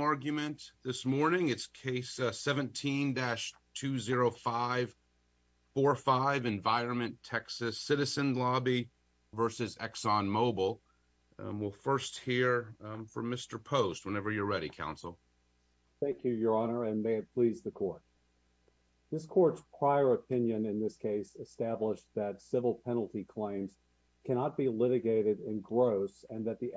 argument this morning. It's case 17-20545, Env TX Citizen Lobby v. ExxonMobil. We'll first hear from Mr. Post whenever you're ready, Counsel. Thank you, Your Honor, and may it please the Court. This Court's prior opinion in this case established that civil penalty claims cannot be litigated in gross and that the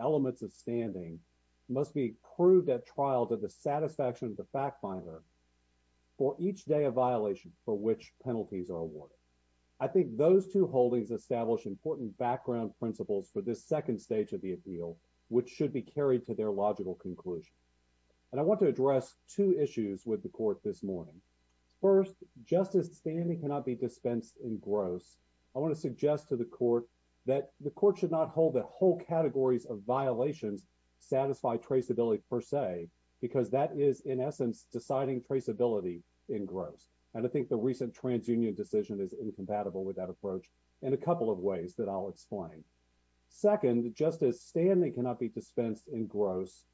satisfaction of the fact finder for each day of violation for which penalties are awarded. I think those two holdings establish important background principles for this second stage of the appeal, which should be carried to their logical conclusion. And I want to address two issues with the Court this morning. First, just as standing cannot be dispensed in gross, I want to suggest to the Court that the Court should not hold that whole categories of violations satisfy traceability per se because that is, in essence, deciding traceability in gross. And I think the recent TransUnion decision is incompatible with that approach in a couple of ways that I'll explain. Second, just as standing cannot be dispensed in gross,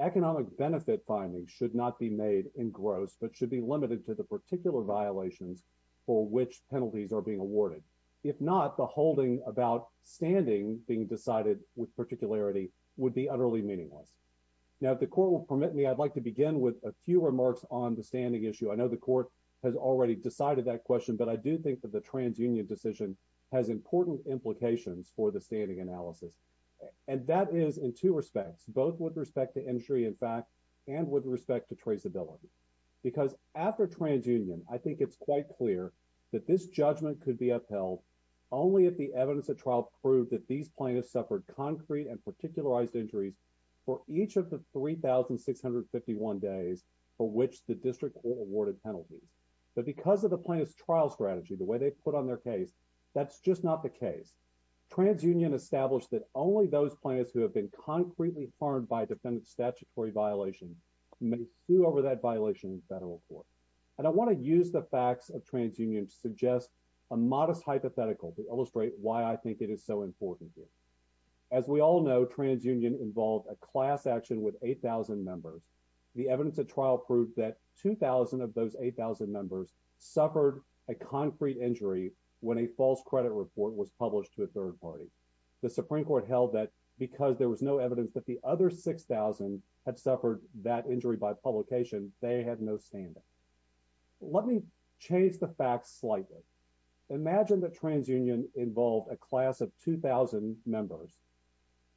economic benefit findings should not be made in gross but should be limited to the particular violations for which penalties are being awarded. If not, the holding about standing being decided with particularity would be utterly meaningless. Now, if the Court will permit me, I'd like to begin with a few remarks on the standing issue. I know the Court has already decided that question, but I do think that the TransUnion decision has important implications for the standing analysis. And that is in two respects, both with respect to injury in fact and with respect to traceability. Because after TransUnion, I think it's quite clear that this judgment could be upheld only if the evidence at trial proved that these plaintiffs suffered concrete and particularized injuries for each of the 3,651 days for which the district court awarded penalties. But because of the plaintiff's trial strategy, the way they put on their case, that's just not the case. TransUnion established that only those plaintiffs who have been concretely harmed by a defendant's statutory violation may sue over that violation in federal court. And I want to use the facts of TransUnion to suggest a modest hypothetical to illustrate why I think it is so important here. As we all know, TransUnion involved a class action with 8,000 members. The evidence at trial proved that 2,000 of those 8,000 members suffered a concrete injury when a false credit report was published to a third party. The Supreme Court held that because there was no evidence that the other 6,000 had suffered that injury by publication, they had no standing. Let me change the facts slightly. Imagine that TransUnion involved a class of 2,000 members,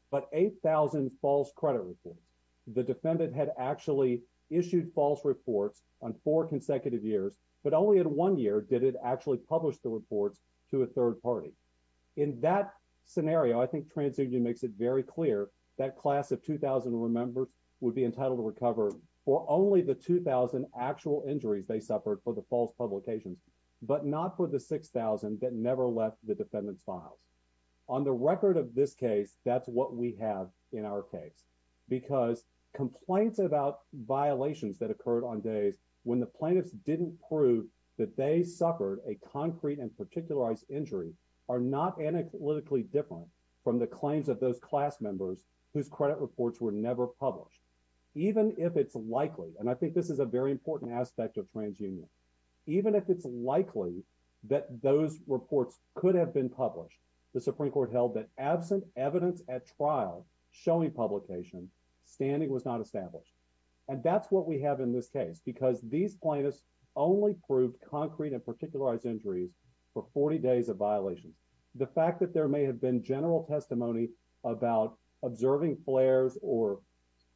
but 8,000 false credit reports. The defendant had actually issued false reports on four consecutive years, but only in one year did it actually publish the reports to a third party. In that scenario, I think TransUnion makes it very clear that class of 2,000 members would be entitled to recover for only the 2,000 actual injuries they suffered for the false publications, but not for the 6,000 that never left the defendant's files. On the record of this case, that's what we have in our case. Because complaints about violations that occurred on days when the plaintiffs didn't prove that they suffered a concrete and particularized injury are not analytically different from the claims of those class members whose credit reports were never published. Even if it's likely, and I think this is a very important aspect of TransUnion, even if it's likely that those reports could have been published, the Supreme Court held that absent evidence at trial showing publication, standing was not established. And that's what we have in this case, because these plaintiffs only proved concrete and particularized injuries for 40 days of violations. The fact that there may have been general testimony about observing flares or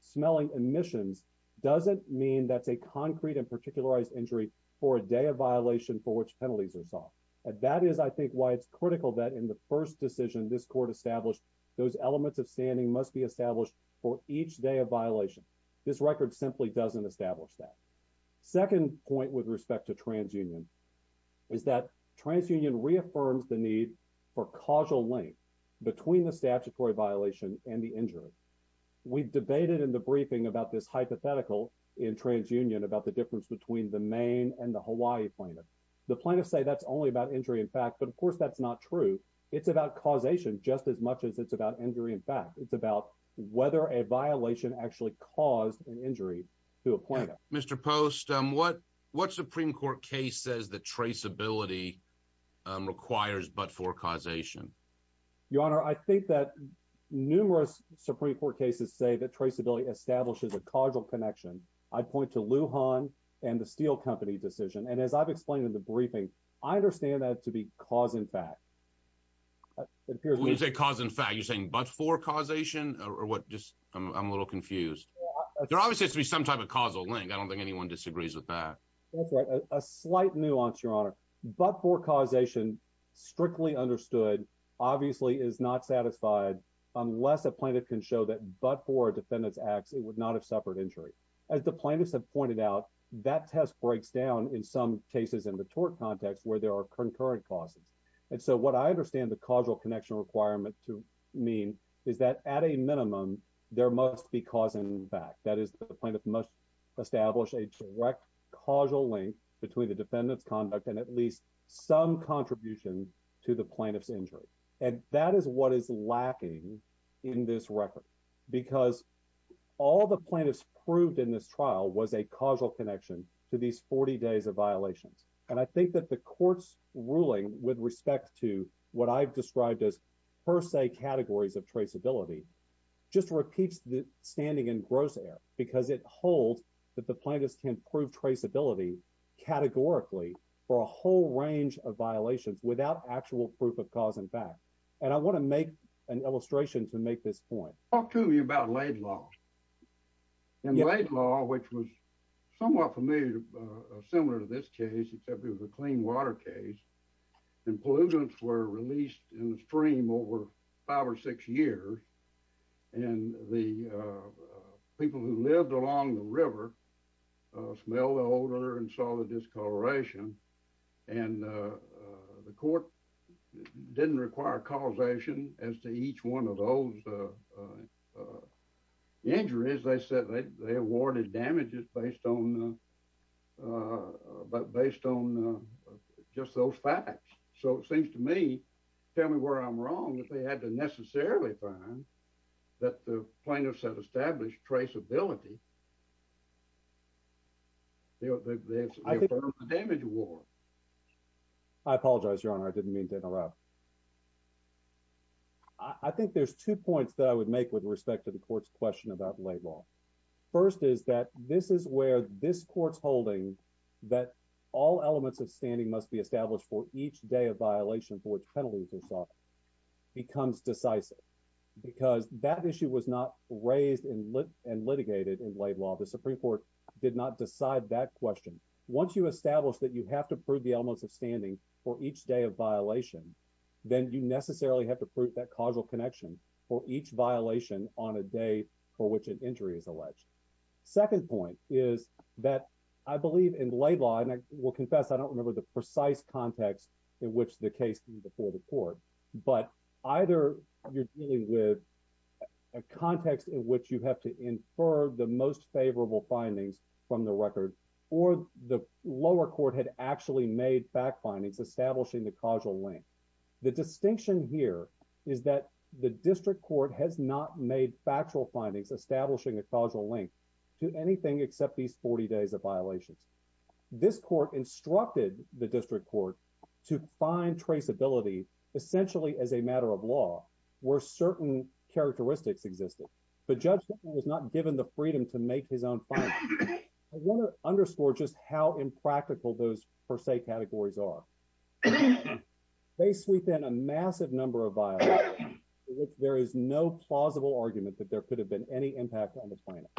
smelling emissions doesn't mean that's a concrete and particularized injury for a day of violation for which penalties are sought. And that is, I think, why it's critical that in the first decision this court established, those elements of standing must be established for each day of violation. This record simply doesn't establish that. Second point with respect to TransUnion is that TransUnion reaffirms the need for causal link between the statutory violation and the injury. We debated in the briefing about this hypothetical in TransUnion about the difference between the Maine and the Hawaii plaintiff. The plaintiffs say that's only about injury in fact, but of course that's not true. It's about causation just as much as it's about injury in fact. It's about whether a violation actually caused an injury. Mr. Post, what Supreme Court case says that traceability requires but-for causation? Your Honor, I think that numerous Supreme Court cases say that traceability establishes a causal connection. I'd point to Lujan and the Steel Company decision. And as I've explained in the briefing, I understand that to be cause in fact. When you say cause in fact, you're saying but-for confused. There obviously has to be some type of causal link. I don't think anyone disagrees with that. That's right. A slight nuance, Your Honor. But-for causation strictly understood obviously is not satisfied unless a plaintiff can show that but-for a defendant's acts it would not have suffered injury. As the plaintiffs have pointed out, that test breaks down in some cases in the tort context where there are concurrent causes. And so what I understand the causal connection requirement to mean is that at a minimum, there must be cause in fact. That is, the plaintiff must establish a direct causal link between the defendant's conduct and at least some contribution to the plaintiff's injury. And that is what is lacking in this record. Because all the plaintiffs proved in this trial was a causal connection to these 40 days of violations. And I think that the court's ruling with respect to what I've described as per se categories of traceability just repeats the standing in gross error because it holds that the plaintiffs can prove traceability categorically for a whole range of violations without actual proof of cause in fact. And I want to make an illustration to make this point. Talk to me about Laid Law. In Laid Law, which was somewhat familiar, similar to this case, except it was a clean water case, and pollutants were released in the stream over five or six years. And the people who lived along the river smelled the odor and saw the discoloration. And the court didn't require causation as to each one of those injuries. They said they awarded damages based on just those facts. So it seems to me, tell me where I'm wrong, that they had to necessarily find that the plaintiffs had established traceability. They affirmed the damage award. I apologize, Your Honor. I didn't mean to interrupt. I think there's two points that I would make with respect to the court's question about Laid Law. First is that this is where this court's holding that all elements of standing must be established for each day of violation for which penalties are sought becomes decisive because that issue was not raised and litigated in Laid Law. The Supreme Court did not decide that question. Once you establish that you have to prove the elements of standing for each day of violation, then you necessarily have to prove that causal connection for each violation on a day for which an injury is alleged. Second point is that I believe in Laid Law, and I will confess I don't remember the precise context in which the case came before the court, but either you're dealing with a context in which you have to infer the most favorable findings from the record, or the lower court had actually made fact findings establishing the causal link. The distinction here is that the district court has not made factual findings establishing a causal link to anything except these 40 days of violations. This court instructed the district court to find traceability essentially as a matter of law where certain characteristics existed, but Judge was not given the freedom to make his own findings. I want to underscore just how impractical those per se categories are. They sweep in a massive number of violations for which there is no plausible argument that there could have been any impact on the plaintiff.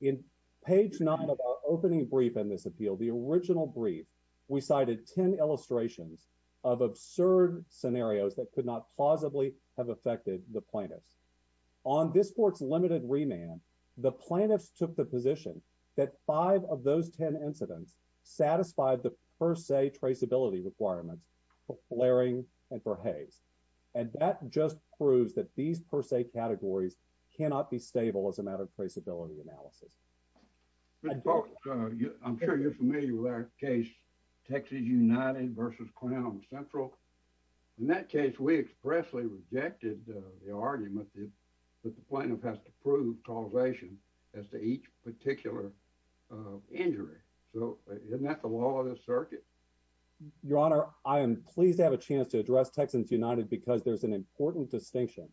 In page 9 of our opening brief in this appeal, the original brief, we cited 10 illustrations of absurd scenarios that could not plausibly have affected the plaintiffs. On this court's limited remand, the plaintiffs took the position that five of those 10 incidents satisfied the per se traceability requirements for Flaring and for Hayes, and that just proves that these per se categories cannot be stable as a matter of traceability analysis. I'm sure you're familiar with our case Texas United versus Clown Central. In that case, we expressly rejected the argument that the plaintiff has to prove causation as to each particular injury. So isn't that the law of the circuit? Your Honor, I am pleased to have a chance to address Texans United because there's an important distinction.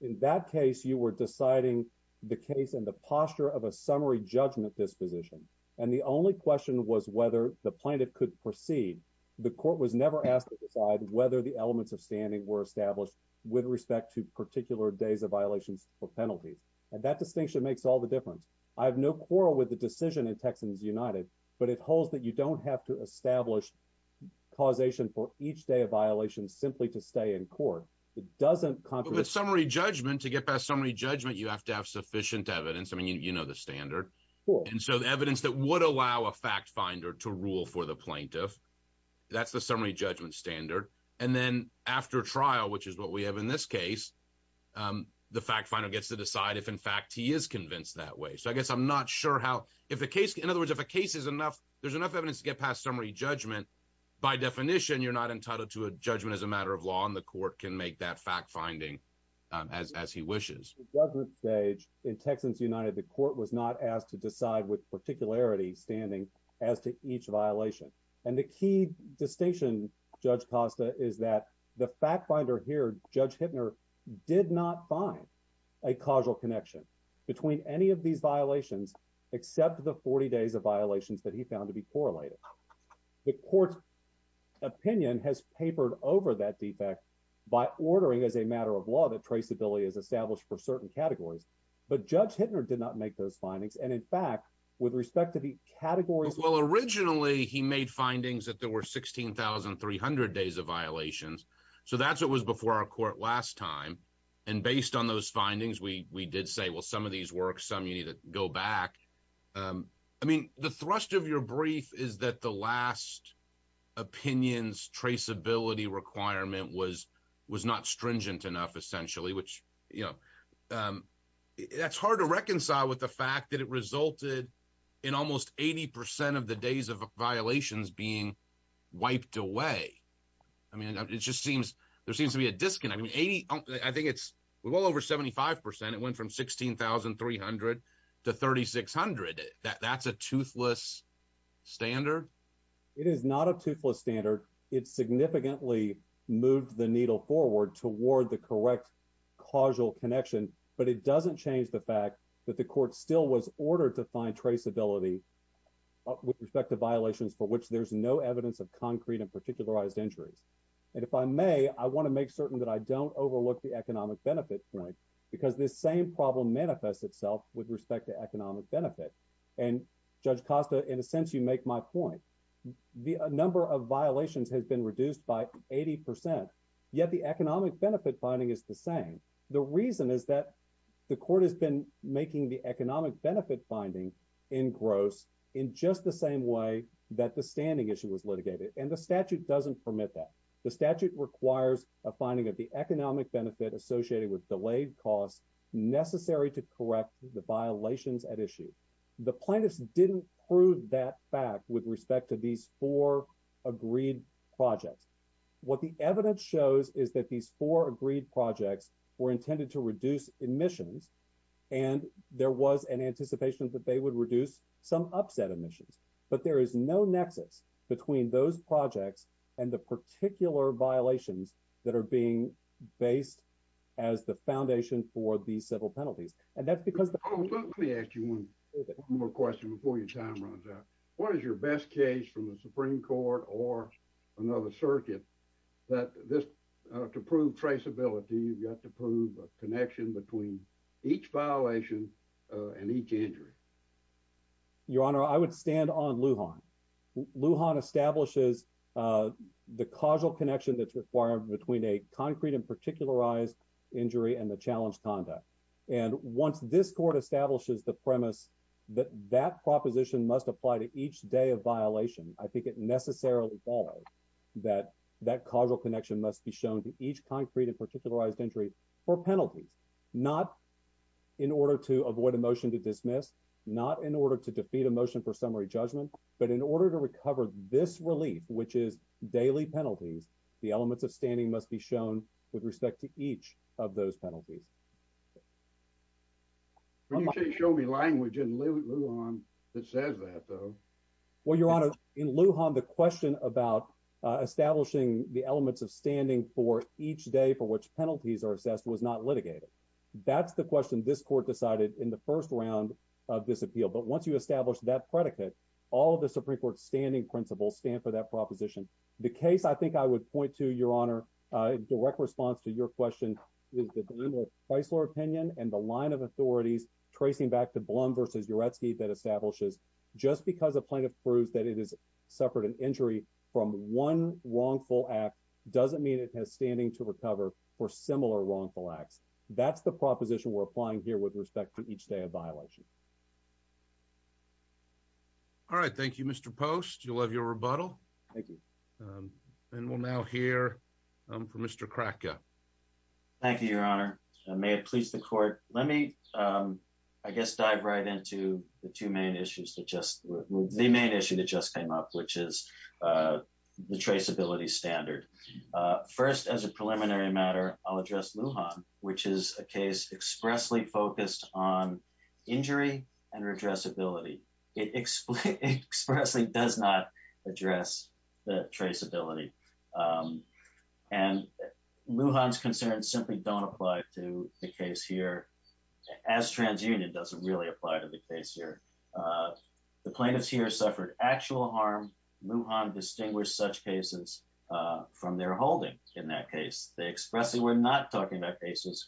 In that case, you were deciding the case and the posture of a summary judgment disposition, and the only question was whether the plaintiff could proceed. The court was never asked to decide whether the elements of standing were established with respect to particular days of violations for penalties, and that distinction makes all the difference. I have no quarrel with the decision in Texans United, but it holds that you don't have to establish causation for each day of violation simply to stay in court. It doesn't compromise... But with summary judgment, to get past summary judgment, you have to have evidence that would allow a fact finder to rule for the plaintiff. That's the summary judgment standard. And then after trial, which is what we have in this case, the fact finder gets to decide if, in fact, he is convinced that way. So I guess I'm not sure how... In other words, if a case is enough, there's enough evidence to get past summary judgment, by definition, you're not entitled to a judgment as a matter of law, and the court can make that fact finding as he wishes. At this stage in Texans United, the court was not asked to decide with particularity standing as to each violation. And the key distinction, Judge Costa, is that the fact finder here, Judge Hittner, did not find a causal connection between any of these violations, except the 40 days of violations that he found to be correlated. The court's opinion has papered over that defect by ordering as a matter of law that traceability is established for certain categories. But Judge Hittner did not make those findings. And in fact, with respect to the categories... Well, originally, he made findings that there were 16,300 days of violations. So that's what was before our court last time. And based on those findings, we did say, well, some of these work, some you need to go back. I mean, the thrust of your brief is that the last opinion's traceability requirement was not stringent enough, essentially. That's hard to reconcile with the fact that it resulted in almost 80% of the days of violations being wiped away. I mean, there seems to be a disconnect. I think it's well over 75%. It went from 16,300 to 3,600. That's a toothless standard. It is not a toothless standard. It significantly moved the needle forward toward the correct causal connection. But it doesn't change the fact that the court still was ordered to find traceability with respect to violations for which there's no evidence of concrete and particularized injuries. And if I may, I want to make certain that I don't overlook the economic benefit point, because this same problem manifests itself with respect to economic benefit. And Judge Costa, in a sense, you make my point. The number of violations has been reduced by 80%. Yet the economic benefit finding is the same. The reason is that the court has been making the economic benefit finding in gross in just the same way that the standing issue was litigated. And the statute doesn't permit that. The statute requires a finding of the economic benefit associated with delayed costs necessary to correct the violations at issue. The plaintiffs didn't prove that fact with respect to these four agreed projects. What the evidence shows is that these four agreed projects were intended to reduce emissions, and there was an anticipation that they would reduce some upset emissions. But there is no violations that are being based as the foundation for the civil penalties. And that's because let me ask you one more question before your time runs out. What is your best case from the Supreme Court or another circuit that this to prove traceability you've got to prove a connection between each violation and each injury? Your Honor, I would stand on Lujan. Lujan establishes the causal connection that's required between a concrete and particularized injury and the challenge conduct. And once this court establishes the premise that that proposition must apply to each day of violation, I think it necessarily follows that that causal connection must be shown to each concrete and particularized injury for penalties, not in order to avoid a motion to dismiss, not in order to defeat a motion for summary judgment. But in order to recover this relief, which is daily penalties, the elements of standing must be shown with respect to each of those penalties. You can't show me language in Lujan that says that, though. Well, Your Honor, in Lujan, the question about establishing the elements of standing for each day for which penalties are assessed was not litigated. That's the question this court decided in the first round of this appeal. But once you establish that predicate, all of the Supreme Court standing principles stand for that proposition. The case I think I would point to, Your Honor, direct response to your question is the Chrysler opinion and the line of authorities tracing back to Blum versus Yuretsky that establishes just because a plaintiff proves that it has suffered an injury from one wrongful act doesn't mean it has standing to recover for similar wrongful acts. That's the proposition we're applying here with respect to each day of violation. All right. Thank you, Mr. Post. You'll have your rebuttal. Thank you. And we'll now hear from Mr. Cracker. Thank you, Your Honor. May it please the court. Let me, I guess, dive right into the two main issues that just, the main issue that just came up, which is the traceability standard. First, as a preliminary matter, I'll address Lujan, which is a case expressly focused on injury and redressability. It expressly does not address the traceability. And Lujan's concerns simply don't apply to the case here, as TransUnion doesn't really apply to the case here. The plaintiffs here suffered actual harm. Lujan distinguished such cases from their holding in that case. They expressly were not talking about cases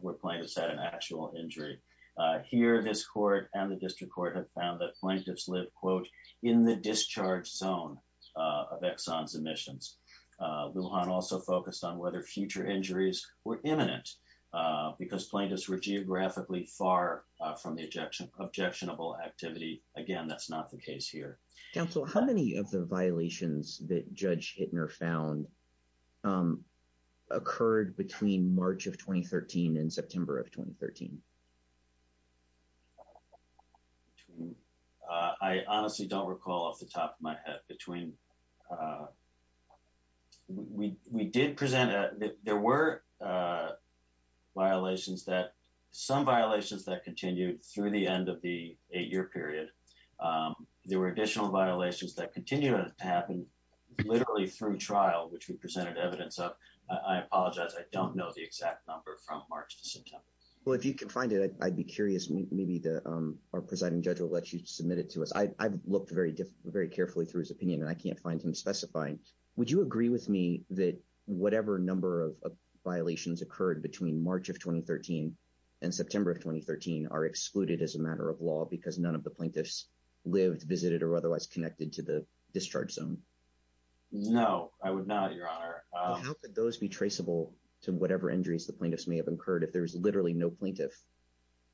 where plaintiffs had an actual injury. Here, this court and the district court have found that plaintiffs live, quote, in the discharge zone of Exxon's emissions. Lujan also focused on whether future injuries were imminent because plaintiffs were geographically far from the objectionable activity. Again, that's not the case here. Counsel, how many of the violations that Judge recall off the top of my head between, we did present, there were violations that, some violations that continued through the end of the eight-year period. There were additional violations that continued to happen literally through trial, which we presented evidence of. I apologize, I don't know the exact number from March to September. Well, if you can find it, I'd be curious, maybe the, our presiding judge will let you submit it to us. I've looked very carefully through his opinion and I can't find him specifying. Would you agree with me that whatever number of violations occurred between March of 2013 and September of 2013 are excluded as a matter of law because none of the plaintiffs lived, visited, or otherwise connected to the discharge zone? No, I would not, your honor. How could those be traceable to whatever injuries the plaintiffs may have incurred if there was literally no plaintiff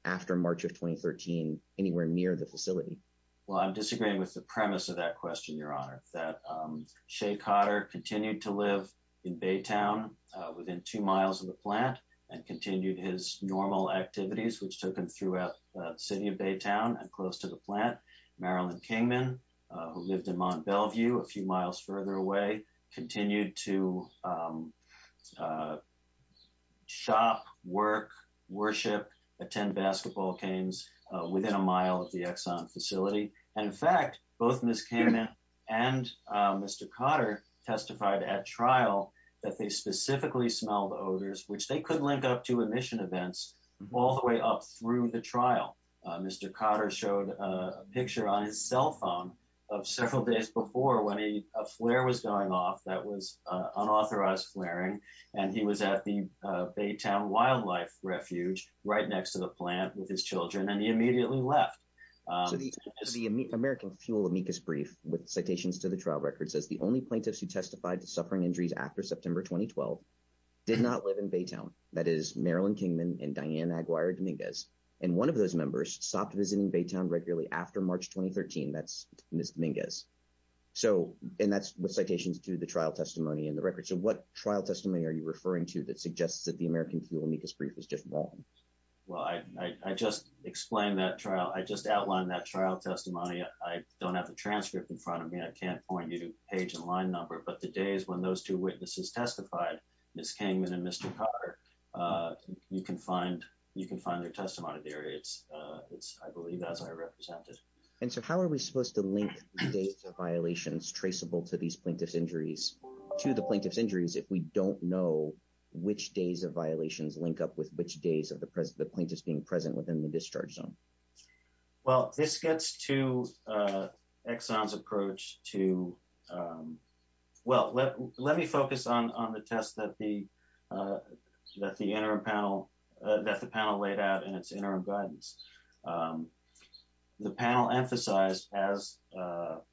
after March of 2013 anywhere near the facility? I'm disagreeing with the premise of that question, your honor, that Shay Cotter continued to live in Baytown within two miles of the plant and continued his normal activities, which took him throughout the city of Baytown and close to the plant. Marilyn Kingman, who lived in Mount Bellevue a few miles further away, continued to shop, work, worship, attend basketball games within a mile of the Exxon facility. And in fact, both Ms. Kingman and Mr. Cotter testified at trial that they specifically smelled odors, which they could link up to emission events all the way up through the trial. Mr. Cotter showed a picture on his cell phone of several days before when a flare was going off that was unauthorized flaring. And he was at the Exxon and he immediately left. The American Fuel amicus brief with citations to the trial record says the only plaintiffs who testified to suffering injuries after September 2012 did not live in Baytown. That is Marilyn Kingman and Diane Aguirre-Dominguez. And one of those members stopped visiting Baytown regularly after March 2013. That's Ms. Dominguez. And that's with citations to the trial testimony in the record. So what trial testimony are you referring to that suggests that the American Fuel amicus brief is just wrong? Well, I just explained that trial. I just outlined that trial testimony. I don't have the transcript in front of me. I can't point you to page and line number. But the days when those two witnesses testified, Ms. Kingman and Mr. Cotter, you can find their testimony there. It's, I believe, as I represented. And so how are we supposed to link data violations traceable to these plaintiff's injuries to the plaintiff's injuries if we don't know which days of violations link up with which days of the plaintiff's being present within the discharge zone? Well, this gets to Exxon's approach to, well, let me focus on the test that the interim panel, that the panel laid out in its interim guidance. The panel emphasized as well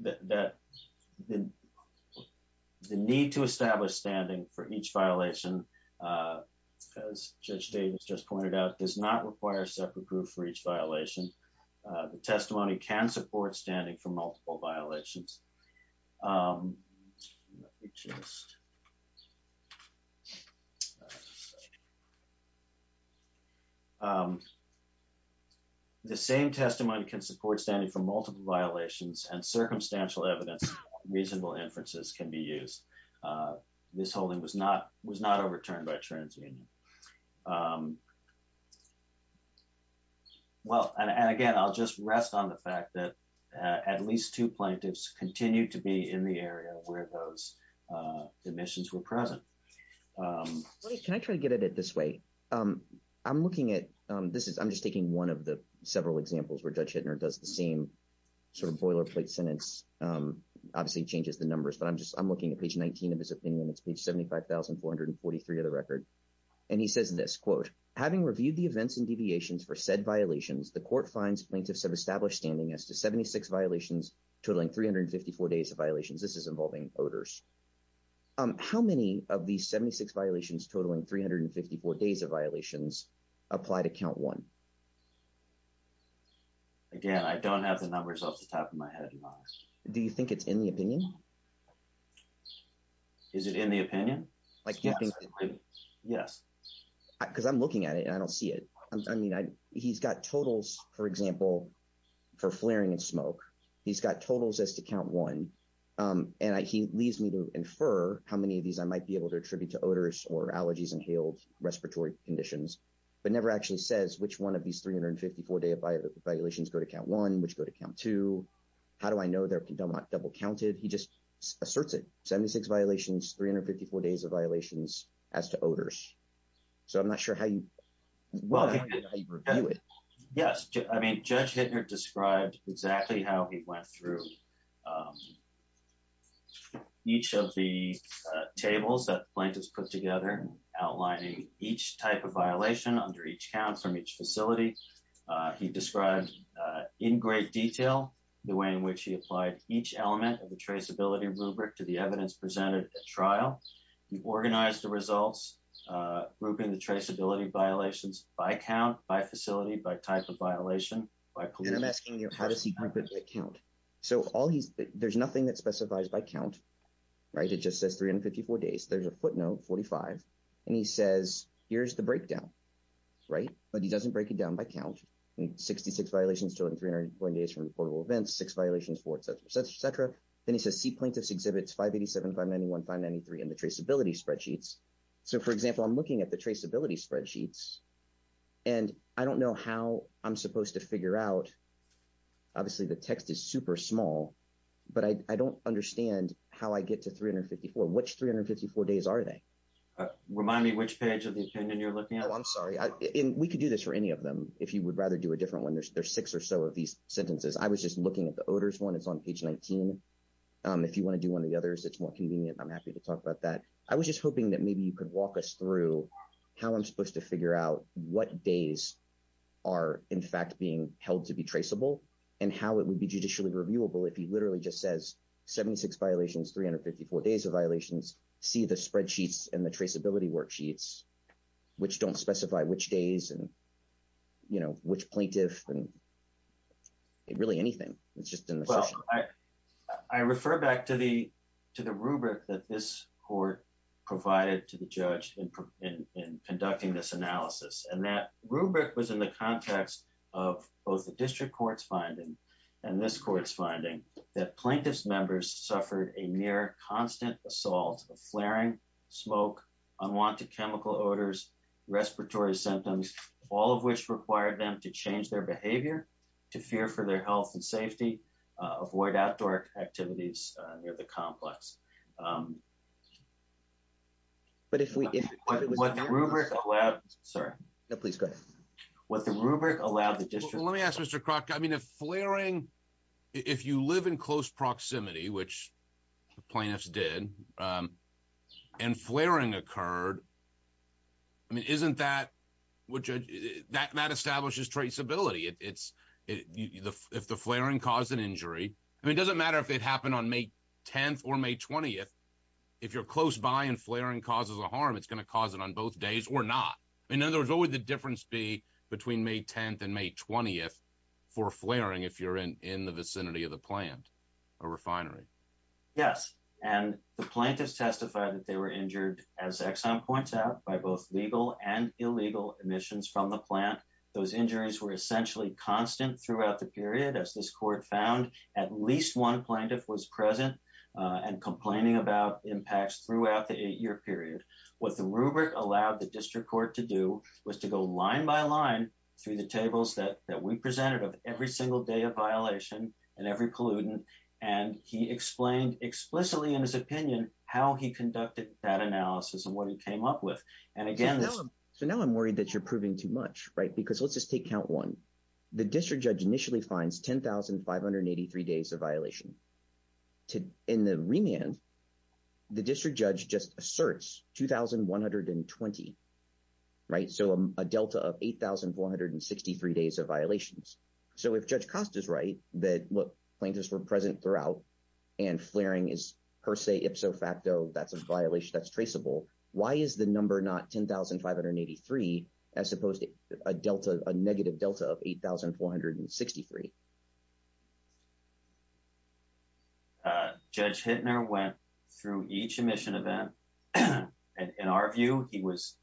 that the need to establish standing for each violation, as Judge Davis just pointed out, does not require a separate group for each violation. The testimony can support standing for multiple violations. The same testimony can support standing for multiple violations and circumstantial evidence, reasonable inferences can be used. This holding was not overturned by two plaintiffs. At least two plaintiffs continued to be in the area where those admissions were present. Can I try to get at it this way? I'm looking at, this is, I'm just taking one of the several examples where Judge Hittner does the same sort of boilerplate sentence, obviously changes the numbers, but I'm just, I'm looking at page 19 of his opinion. It's page 75,443 of the record. And he says this, quote, having reviewed the events and deviations for said violations, the court finds plaintiffs have established standing as to 76 violations totaling 354 days of violations. This is involving voters. How many of these 76 violations totaling 354 days of violations apply to count one? Again, I don't have the numbers off the top of my head. Do you think it's in the opinion? Is it in the opinion? Yes. Because I'm looking at it and I don't see it. I mean, he's got totals, for example, for flaring and smoke. He's got totals as to count one. And he leaves me to infer how many of these I might be able to attribute to odors or allergies, inhaled respiratory conditions, but never actually says which one of these 354 day violations go to count one, which go to count two. How do I know they're double counted? He just asserts it. 76 violations, 354 days of violations as to odors. So I'm not sure how you review it. Yes. I mean, Judge Hittner described exactly how he went through each of the tables that plaintiffs put together, outlining each type of violation under each count from each facility. He described in great detail the way in which he applied each element of the traceability rubric to the evidence presented at trial. He organized the results, grouping the traceability violations by count, by facility, by type of violation, by pollution. And I'm asking you, how does he group it by count? So there's nothing that specifies by count, right? It just says 354 days. There's a footnote, 45. And he says, here's the breakdown, right? But he doesn't break it down by count. 66 violations during 300 days from reportable events, six violations for et cetera, et cetera. Then he says, see plaintiff's exhibits 587, 591, 593 in the traceability spreadsheets. So for example, I'm looking at the traceability spreadsheets and I don't know how I'm supposed to figure out. Obviously the text is super small, but I don't understand how I get to 354. Which 354 days are they? Remind me which page of the opinion you're looking at. Oh, I'm sorry. We could do this for if you would rather do a different one. There's six or so of these sentences. I was just looking at the odors one. It's on page 19. If you want to do one of the others, it's more convenient. I'm happy to talk about that. I was just hoping that maybe you could walk us through how I'm supposed to figure out what days are in fact being held to be traceable and how it would be judicially reviewable if he literally just says 76 violations, 354 days of violations, see the spreadsheets and traceability worksheets which don't specify which days and which plaintiff and really anything. I refer back to the rubric that this court provided to the judge in conducting this analysis and that rubric was in the context of both the district court's finding and this court's finding that plaintiff's members suffered a near constant assault of flaring, smoke, unwanted chemical odors, respiratory symptoms, all of which required them to change their behavior to fear for their health and safety, avoid outdoor activities near the complex. But if we, what the rubric allowed, sorry. No, please go ahead. What the rubric allowed the proximity, which the plaintiffs did and flaring occurred, I mean, isn't that, which that establishes traceability. It's, if the flaring caused an injury, I mean, it doesn't matter if it happened on May 10th or May 20th. If you're close by and flaring causes a harm, it's going to cause it on both days or not. In other words, what would the difference be May 10th and May 20th for flaring if you're in the vicinity of the plant or refinery? Yes. And the plaintiff's testified that they were injured as Exxon points out by both legal and illegal emissions from the plant. Those injuries were essentially constant throughout the period. As this court found at least one plaintiff was present and complaining about impacts throughout the eight year period. What the rubric allowed the district court to do was to go line by line through the tables that we presented of every single day of violation and every pollutant. And he explained explicitly in his opinion, how he conducted that analysis and what he came up with. And again, so now I'm worried that you're proving too much, right? Because let's just take count one. The district judge initially finds 10,583 days of violation. In the remand, the district judge just asserts 2,120, right? So a delta of 8,463 days of violations. So if Judge Costa's right, that what plaintiffs were present throughout and flaring is per se, ipso facto, that's a violation that's traceable. Why is the number not 10,583 as opposed to a negative delta of 8,463? Judge Hittner went through each emission event. In our view, he was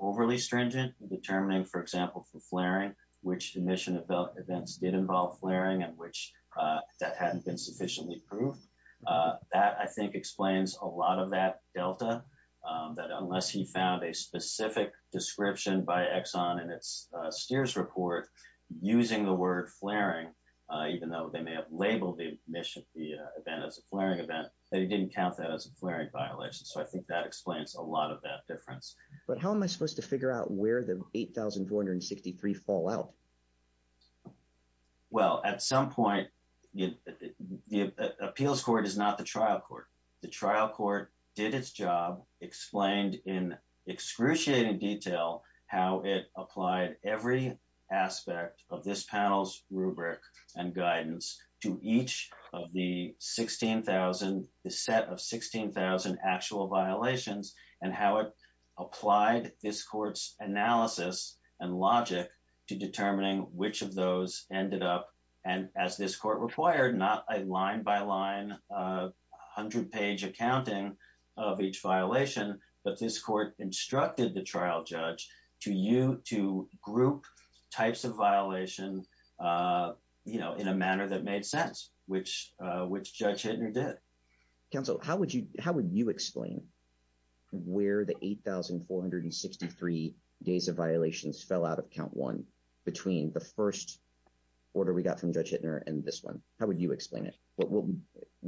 overly stringent in determining, for example, for flaring, which emission events did involve flaring and which that hadn't been sufficiently proved. That, I think, explains a lot of that delta, that unless he found a specific description by Exxon in its Steers report using the word flaring, even though they may have labeled the event as a flaring event, that he didn't count that as a flaring violation. So I think that explains a lot of that difference. But how am I supposed to figure out where the 8,463 fall out? Well, at some point, the appeals court is not the trial court. The trial court did its job, explained in excruciating detail how it applied every aspect of this panel's rubric and guidance to each of the 16,000, the set of 16,000 actual violations, and how it applied this court's analysis and logic to determining which of those ended up, and as this court required, not a line-by-line, 100-page accounting of each violation, but this court instructed the trial judge to group types of violation in a manner that made sense, which Judge Hittner did. Counsel, how would you explain where the 8,463 days of violations fell out of count one between the first order we got from Judge Hittner and this one? How would you explain it? What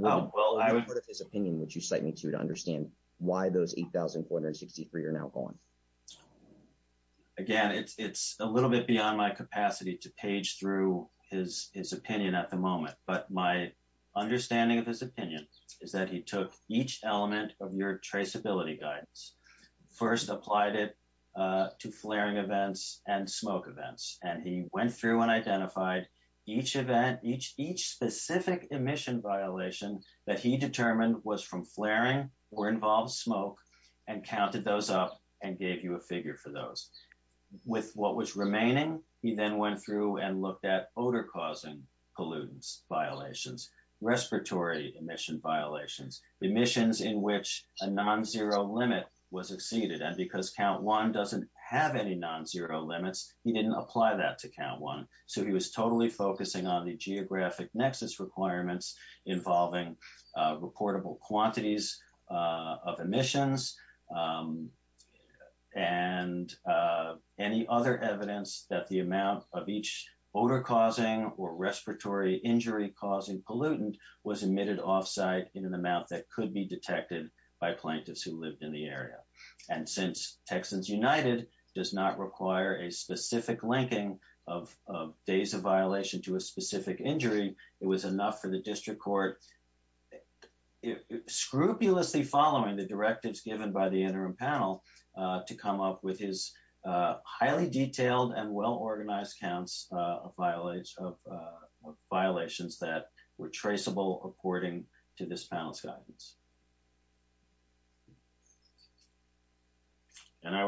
part of his opinion would you cite me to to understand why those 8,463 are now gone? Again, it's a little bit beyond my capacity to page through his opinion at the moment, but my understanding of his opinion is that he took each element of your traceability guidance, first applied it to flaring events and smoke events, and he went through and identified each event, each specific emission violation that he determined was from flaring or involved smoke, and counted those up and gave you a figure for those. With what was remaining, he then went through and looked at odor-causing pollutants violations, respiratory emission violations, emissions in which a non-zero limit was exceeded, and because count one doesn't have any non-zero limits, he didn't apply that to count one, so he was totally focusing on the geographic nexus requirements involving reportable quantities of emissions and any other evidence that the amount of each odor-causing or respiratory injury-causing pollutant was emitted off-site in an amount that could be detected by plaintiffs who lived in the area. And since Texans United does not require a specific linking of days of violation to a specific injury, it was enough for the district court, scrupulously following the directives given by the interim panel, to come up with his highly detailed and well-organized counts of violations that were traceable according to this panel's guidance. And I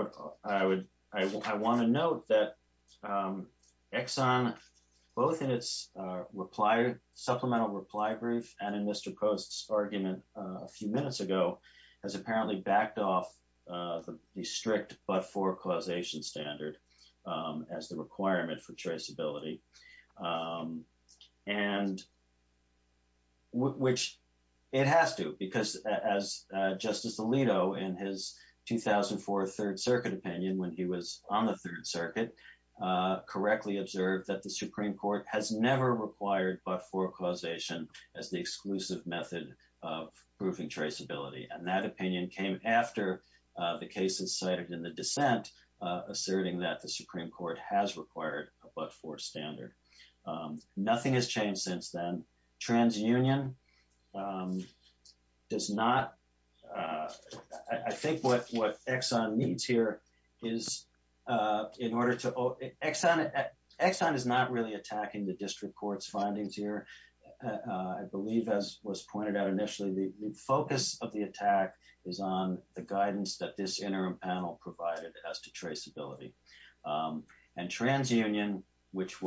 want to note that Exxon, both in its supplemental reply brief and in Mr. Post's argument a few minutes ago, has apparently backed off the strict but-for causation standard as the requirement for traceability, which it has to because as Justice Alito, in his 2004 Third Circuit opinion when he was on the Third Circuit, correctly observed that the Supreme Court has never required but-for causation as the exclusive method of proving traceability. And that opinion came after the cases cited in the dissent asserting that the Supreme Court has required a but-for standard. Nothing has changed since then. TransUnion does not, I think what Exxon needs here is in order to, Exxon is not really the focus of the attack is on the guidance that this interim panel provided as to traceability. And TransUnion, which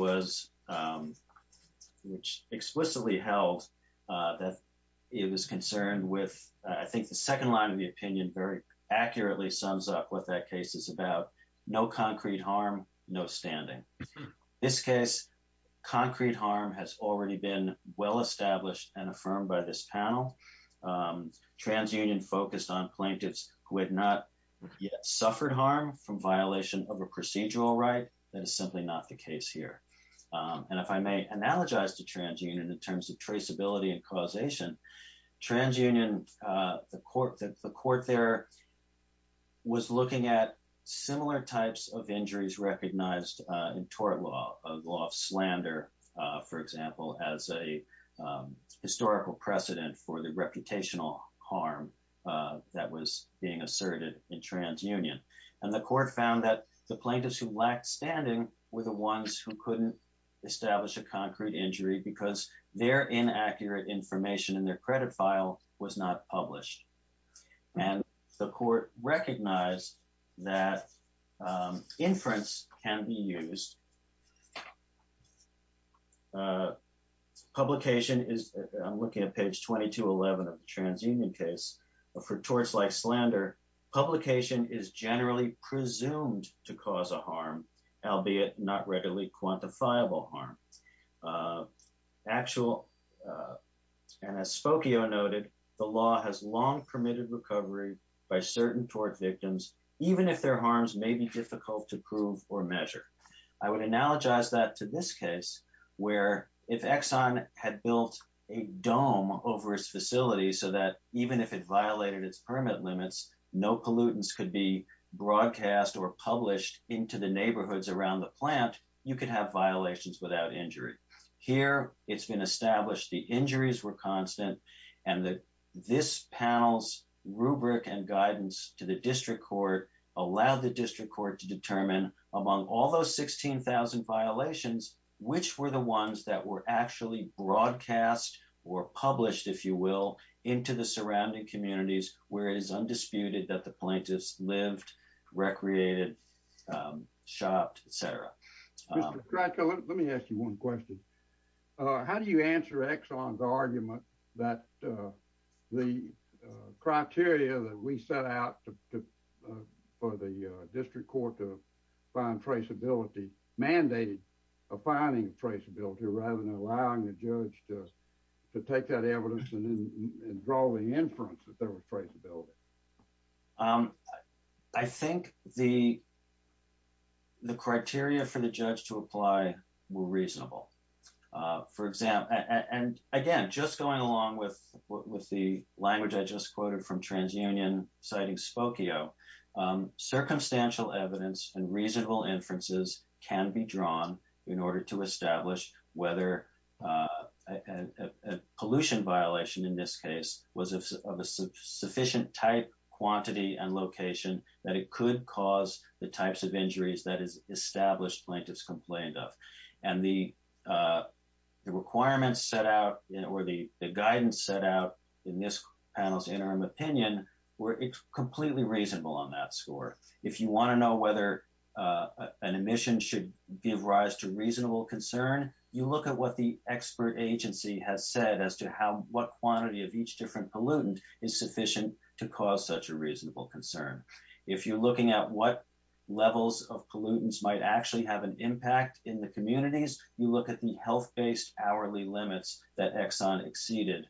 explicitly held that it was concerned with, I think the second line of the opinion very accurately sums up what that case is about, no concrete harm, no standing. This case, concrete harm has already been well-established and affirmed by this panel. TransUnion focused on plaintiffs who had not yet suffered harm from violation of a procedural right, that is simply not the case here. And if I may analogize to TransUnion in terms of traceability and causation, TransUnion, the court there was looking at similar types of injuries recognized in tort law, a law of slander, for example, as a historical precedent for the reputational harm that was being asserted in TransUnion. And the court found that the plaintiffs who lacked standing were the ones who couldn't establish a concrete injury because their inaccurate information in their credit file was not published. And the court recognized that the plaintiffs who lacked standing were the ones who couldn't establish a concrete injury. Publication is, I'm looking at page 2211 of the TransUnion case, for torts like slander, publication is generally presumed to cause a harm, albeit not readily quantifiable harm. Actual, and as Spokio noted, the law has long permitted recovery by certain tort victims, even if their harms may be difficult to prove or measure. I would analogize that to this case, where if Exxon had built a dome over its facility so that even if it violated its permit limits, no pollutants could be broadcast or published into the neighborhoods around the plant, you could have violations without injury. Here, it's been established the injuries were constant and that this panel's rubric and guidance to the district court allowed the district court to determine among all those 16,000 violations, which were the ones that were actually broadcast or published, if you will, into the surrounding communities, where it is undisputed that the plaintiffs lived, recreated, shopped, et cetera. Mr. Krakow, let me ask you one question. How do you answer Exxon's argument that the criteria that we set out for the district court to find traceability mandated a finding traceability rather than allowing the judge to take that evidence and draw the inference that there was traceability? I think the criteria for the judge to apply were reasonable. Again, just going along with the language I just quoted from TransUnion citing Spokio, circumstantial evidence and reasonable inferences can be drawn in order to establish whether a pollution violation in this case was of a sufficient type, quantity, and location that it could cause the types of injuries that is established plaintiffs complained of. The requirements set out or the guidance set out in this panel's interim opinion were completely reasonable on that score. If you want to know whether an emission should give rise to reasonable concern, you look at what the expert agency has said as to what quantity of each different pollutant is sufficient to cause such a reasonable concern. If you're looking at what levels of pollutants might actually have an impact in the communities, you look at the health-based hourly limits that Exxon exceeded.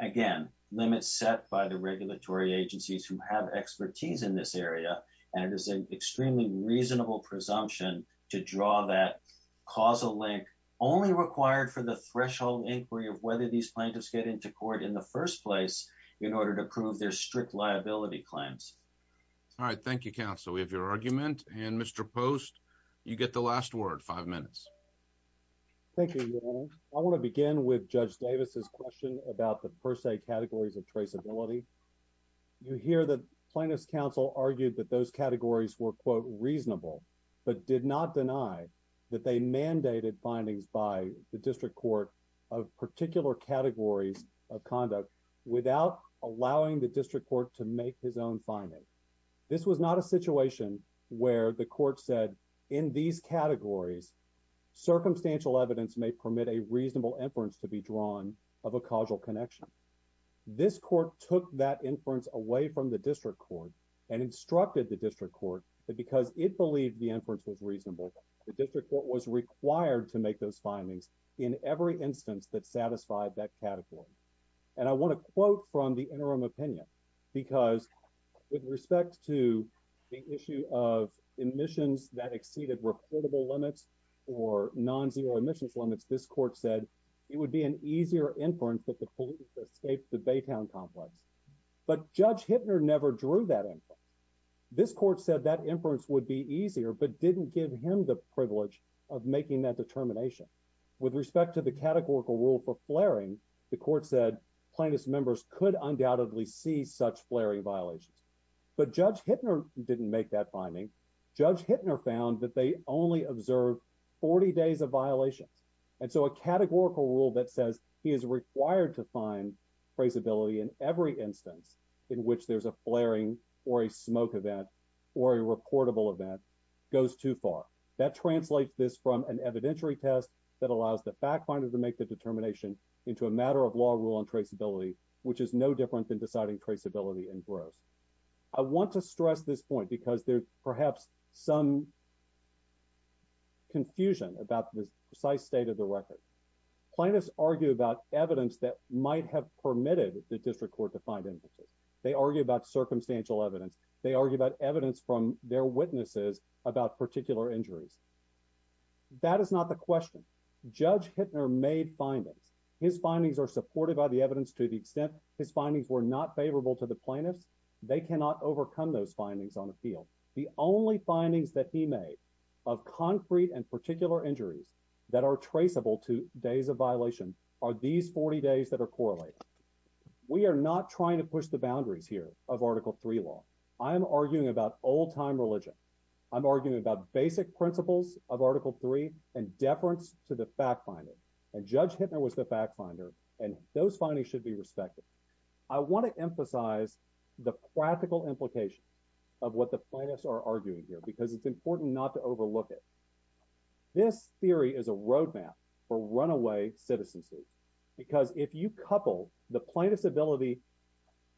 Again, limits set by the regulatory agencies who have expertise in this only required for the threshold inquiry of whether these plaintiffs get into court in the first place in order to prove their strict liability claims. All right. Thank you, counsel. We have your argument. And Mr. Post, you get the last word. Five minutes. Thank you. I want to begin with Judge Davis's question about the per se categories of traceability. You hear that plaintiffs counsel argued that those categories were quote reasonable, but did not deny that they mandated findings by the district court of particular categories of conduct without allowing the district court to make his own finding. This was not a situation where the court said in these categories, circumstantial evidence may permit a reasonable inference to be drawn of a causal the district court that because it believed the inference was reasonable, the district court was required to make those findings in every instance that satisfied that category. And I want to quote from the interim opinion because with respect to the issue of emissions that exceeded reportable limits or non-zero emissions limits, this court said it would be an easier inference that the court said that inference would be easier but didn't give him the privilege of making that determination. With respect to the categorical rule for flaring, the court said plaintiffs members could undoubtedly see such flaring violations. But Judge Hittner didn't make that finding. Judge Hittner found that they only observed 40 days of violations. And so a categorical rule that says he is required to find traceability in every instance in which there's a flaring or a smoke event or a reportable event goes too far. That translates this from an evidentiary test that allows the fact finder to make the determination into a matter of law rule and traceability which is no different than deciding traceability and gross. I want to stress this point because there's perhaps some confusion about the precise state of the record. Plaintiffs argue about evidence that might have permitted the district court to they argue about evidence from their witnesses about particular injuries. That is not the question. Judge Hittner made findings. His findings are supported by the evidence to the extent his findings were not favorable to the plaintiffs. They cannot overcome those findings on appeal. The only findings that he made of concrete and particular injuries that are traceable to days of violation are these 40 days that are correlated. We are not trying to I'm arguing about old time religion. I'm arguing about basic principles of article three and deference to the fact finder. And Judge Hittner was the fact finder and those findings should be respected. I want to emphasize the practical implications of what the plaintiffs are arguing here because it's important not to overlook it. This theory is a roadmap for runaway citizens. If you couple the plaintiff's ability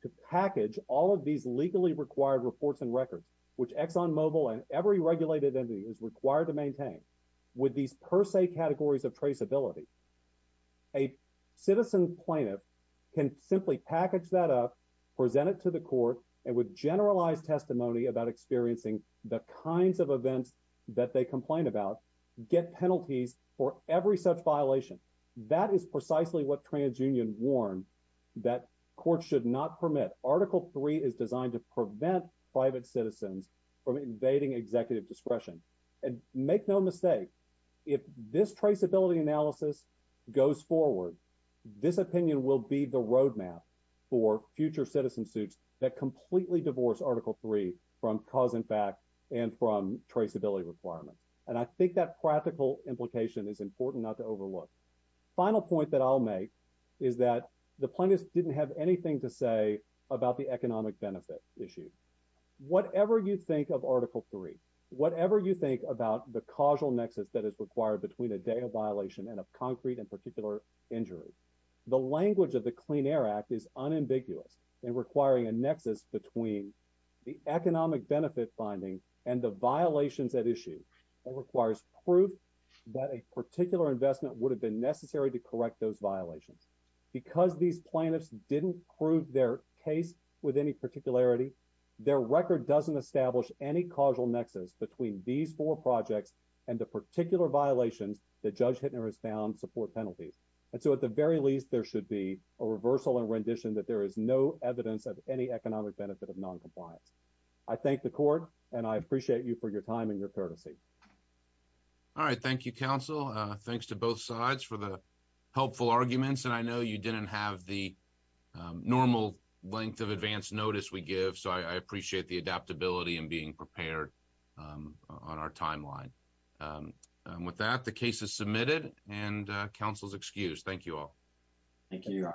to package all of these legally required reports and records which Exxon Mobil and every regulated entity is required to maintain with these per se categories of traceability, a citizen plaintiff can simply package that up, present it to the court and with generalized testimony about experiencing the kinds of events that they That is precisely what TransUnion warned that courts should not permit. Article three is designed to prevent private citizens from invading executive discretion. And make no mistake, if this traceability analysis goes forward, this opinion will be the roadmap for future citizen suits that completely divorce article three from cause and fact and from traceability requirements. And I think that practical implication is important not to overlook. Final point that I'll make is that the plaintiffs didn't have anything to say about the economic benefit issue. Whatever you think of article three, whatever you think about the causal nexus that is required between a data violation and a concrete and particular injury, the language of the Clean Air Act is unambiguous and requiring a nexus between the economic benefit finding and the violations at requires proof that a particular investment would have been necessary to correct those violations. Because these plaintiffs didn't prove their case with any particularity, their record doesn't establish any causal nexus between these four projects and the particular violations that Judge Hittner has found support penalties. And so at the very least, there should be a reversal and rendition that there is no evidence of any economic benefit of non compliance. I thank the courtesy. All right. Thank you, counsel. Thanks to both sides for the helpful arguments. And I know you didn't have the normal length of advance notice we give. So I appreciate the adaptability and being prepared on our timeline. With that the case is submitted and counsel's excuse. Thank you all. Thank you.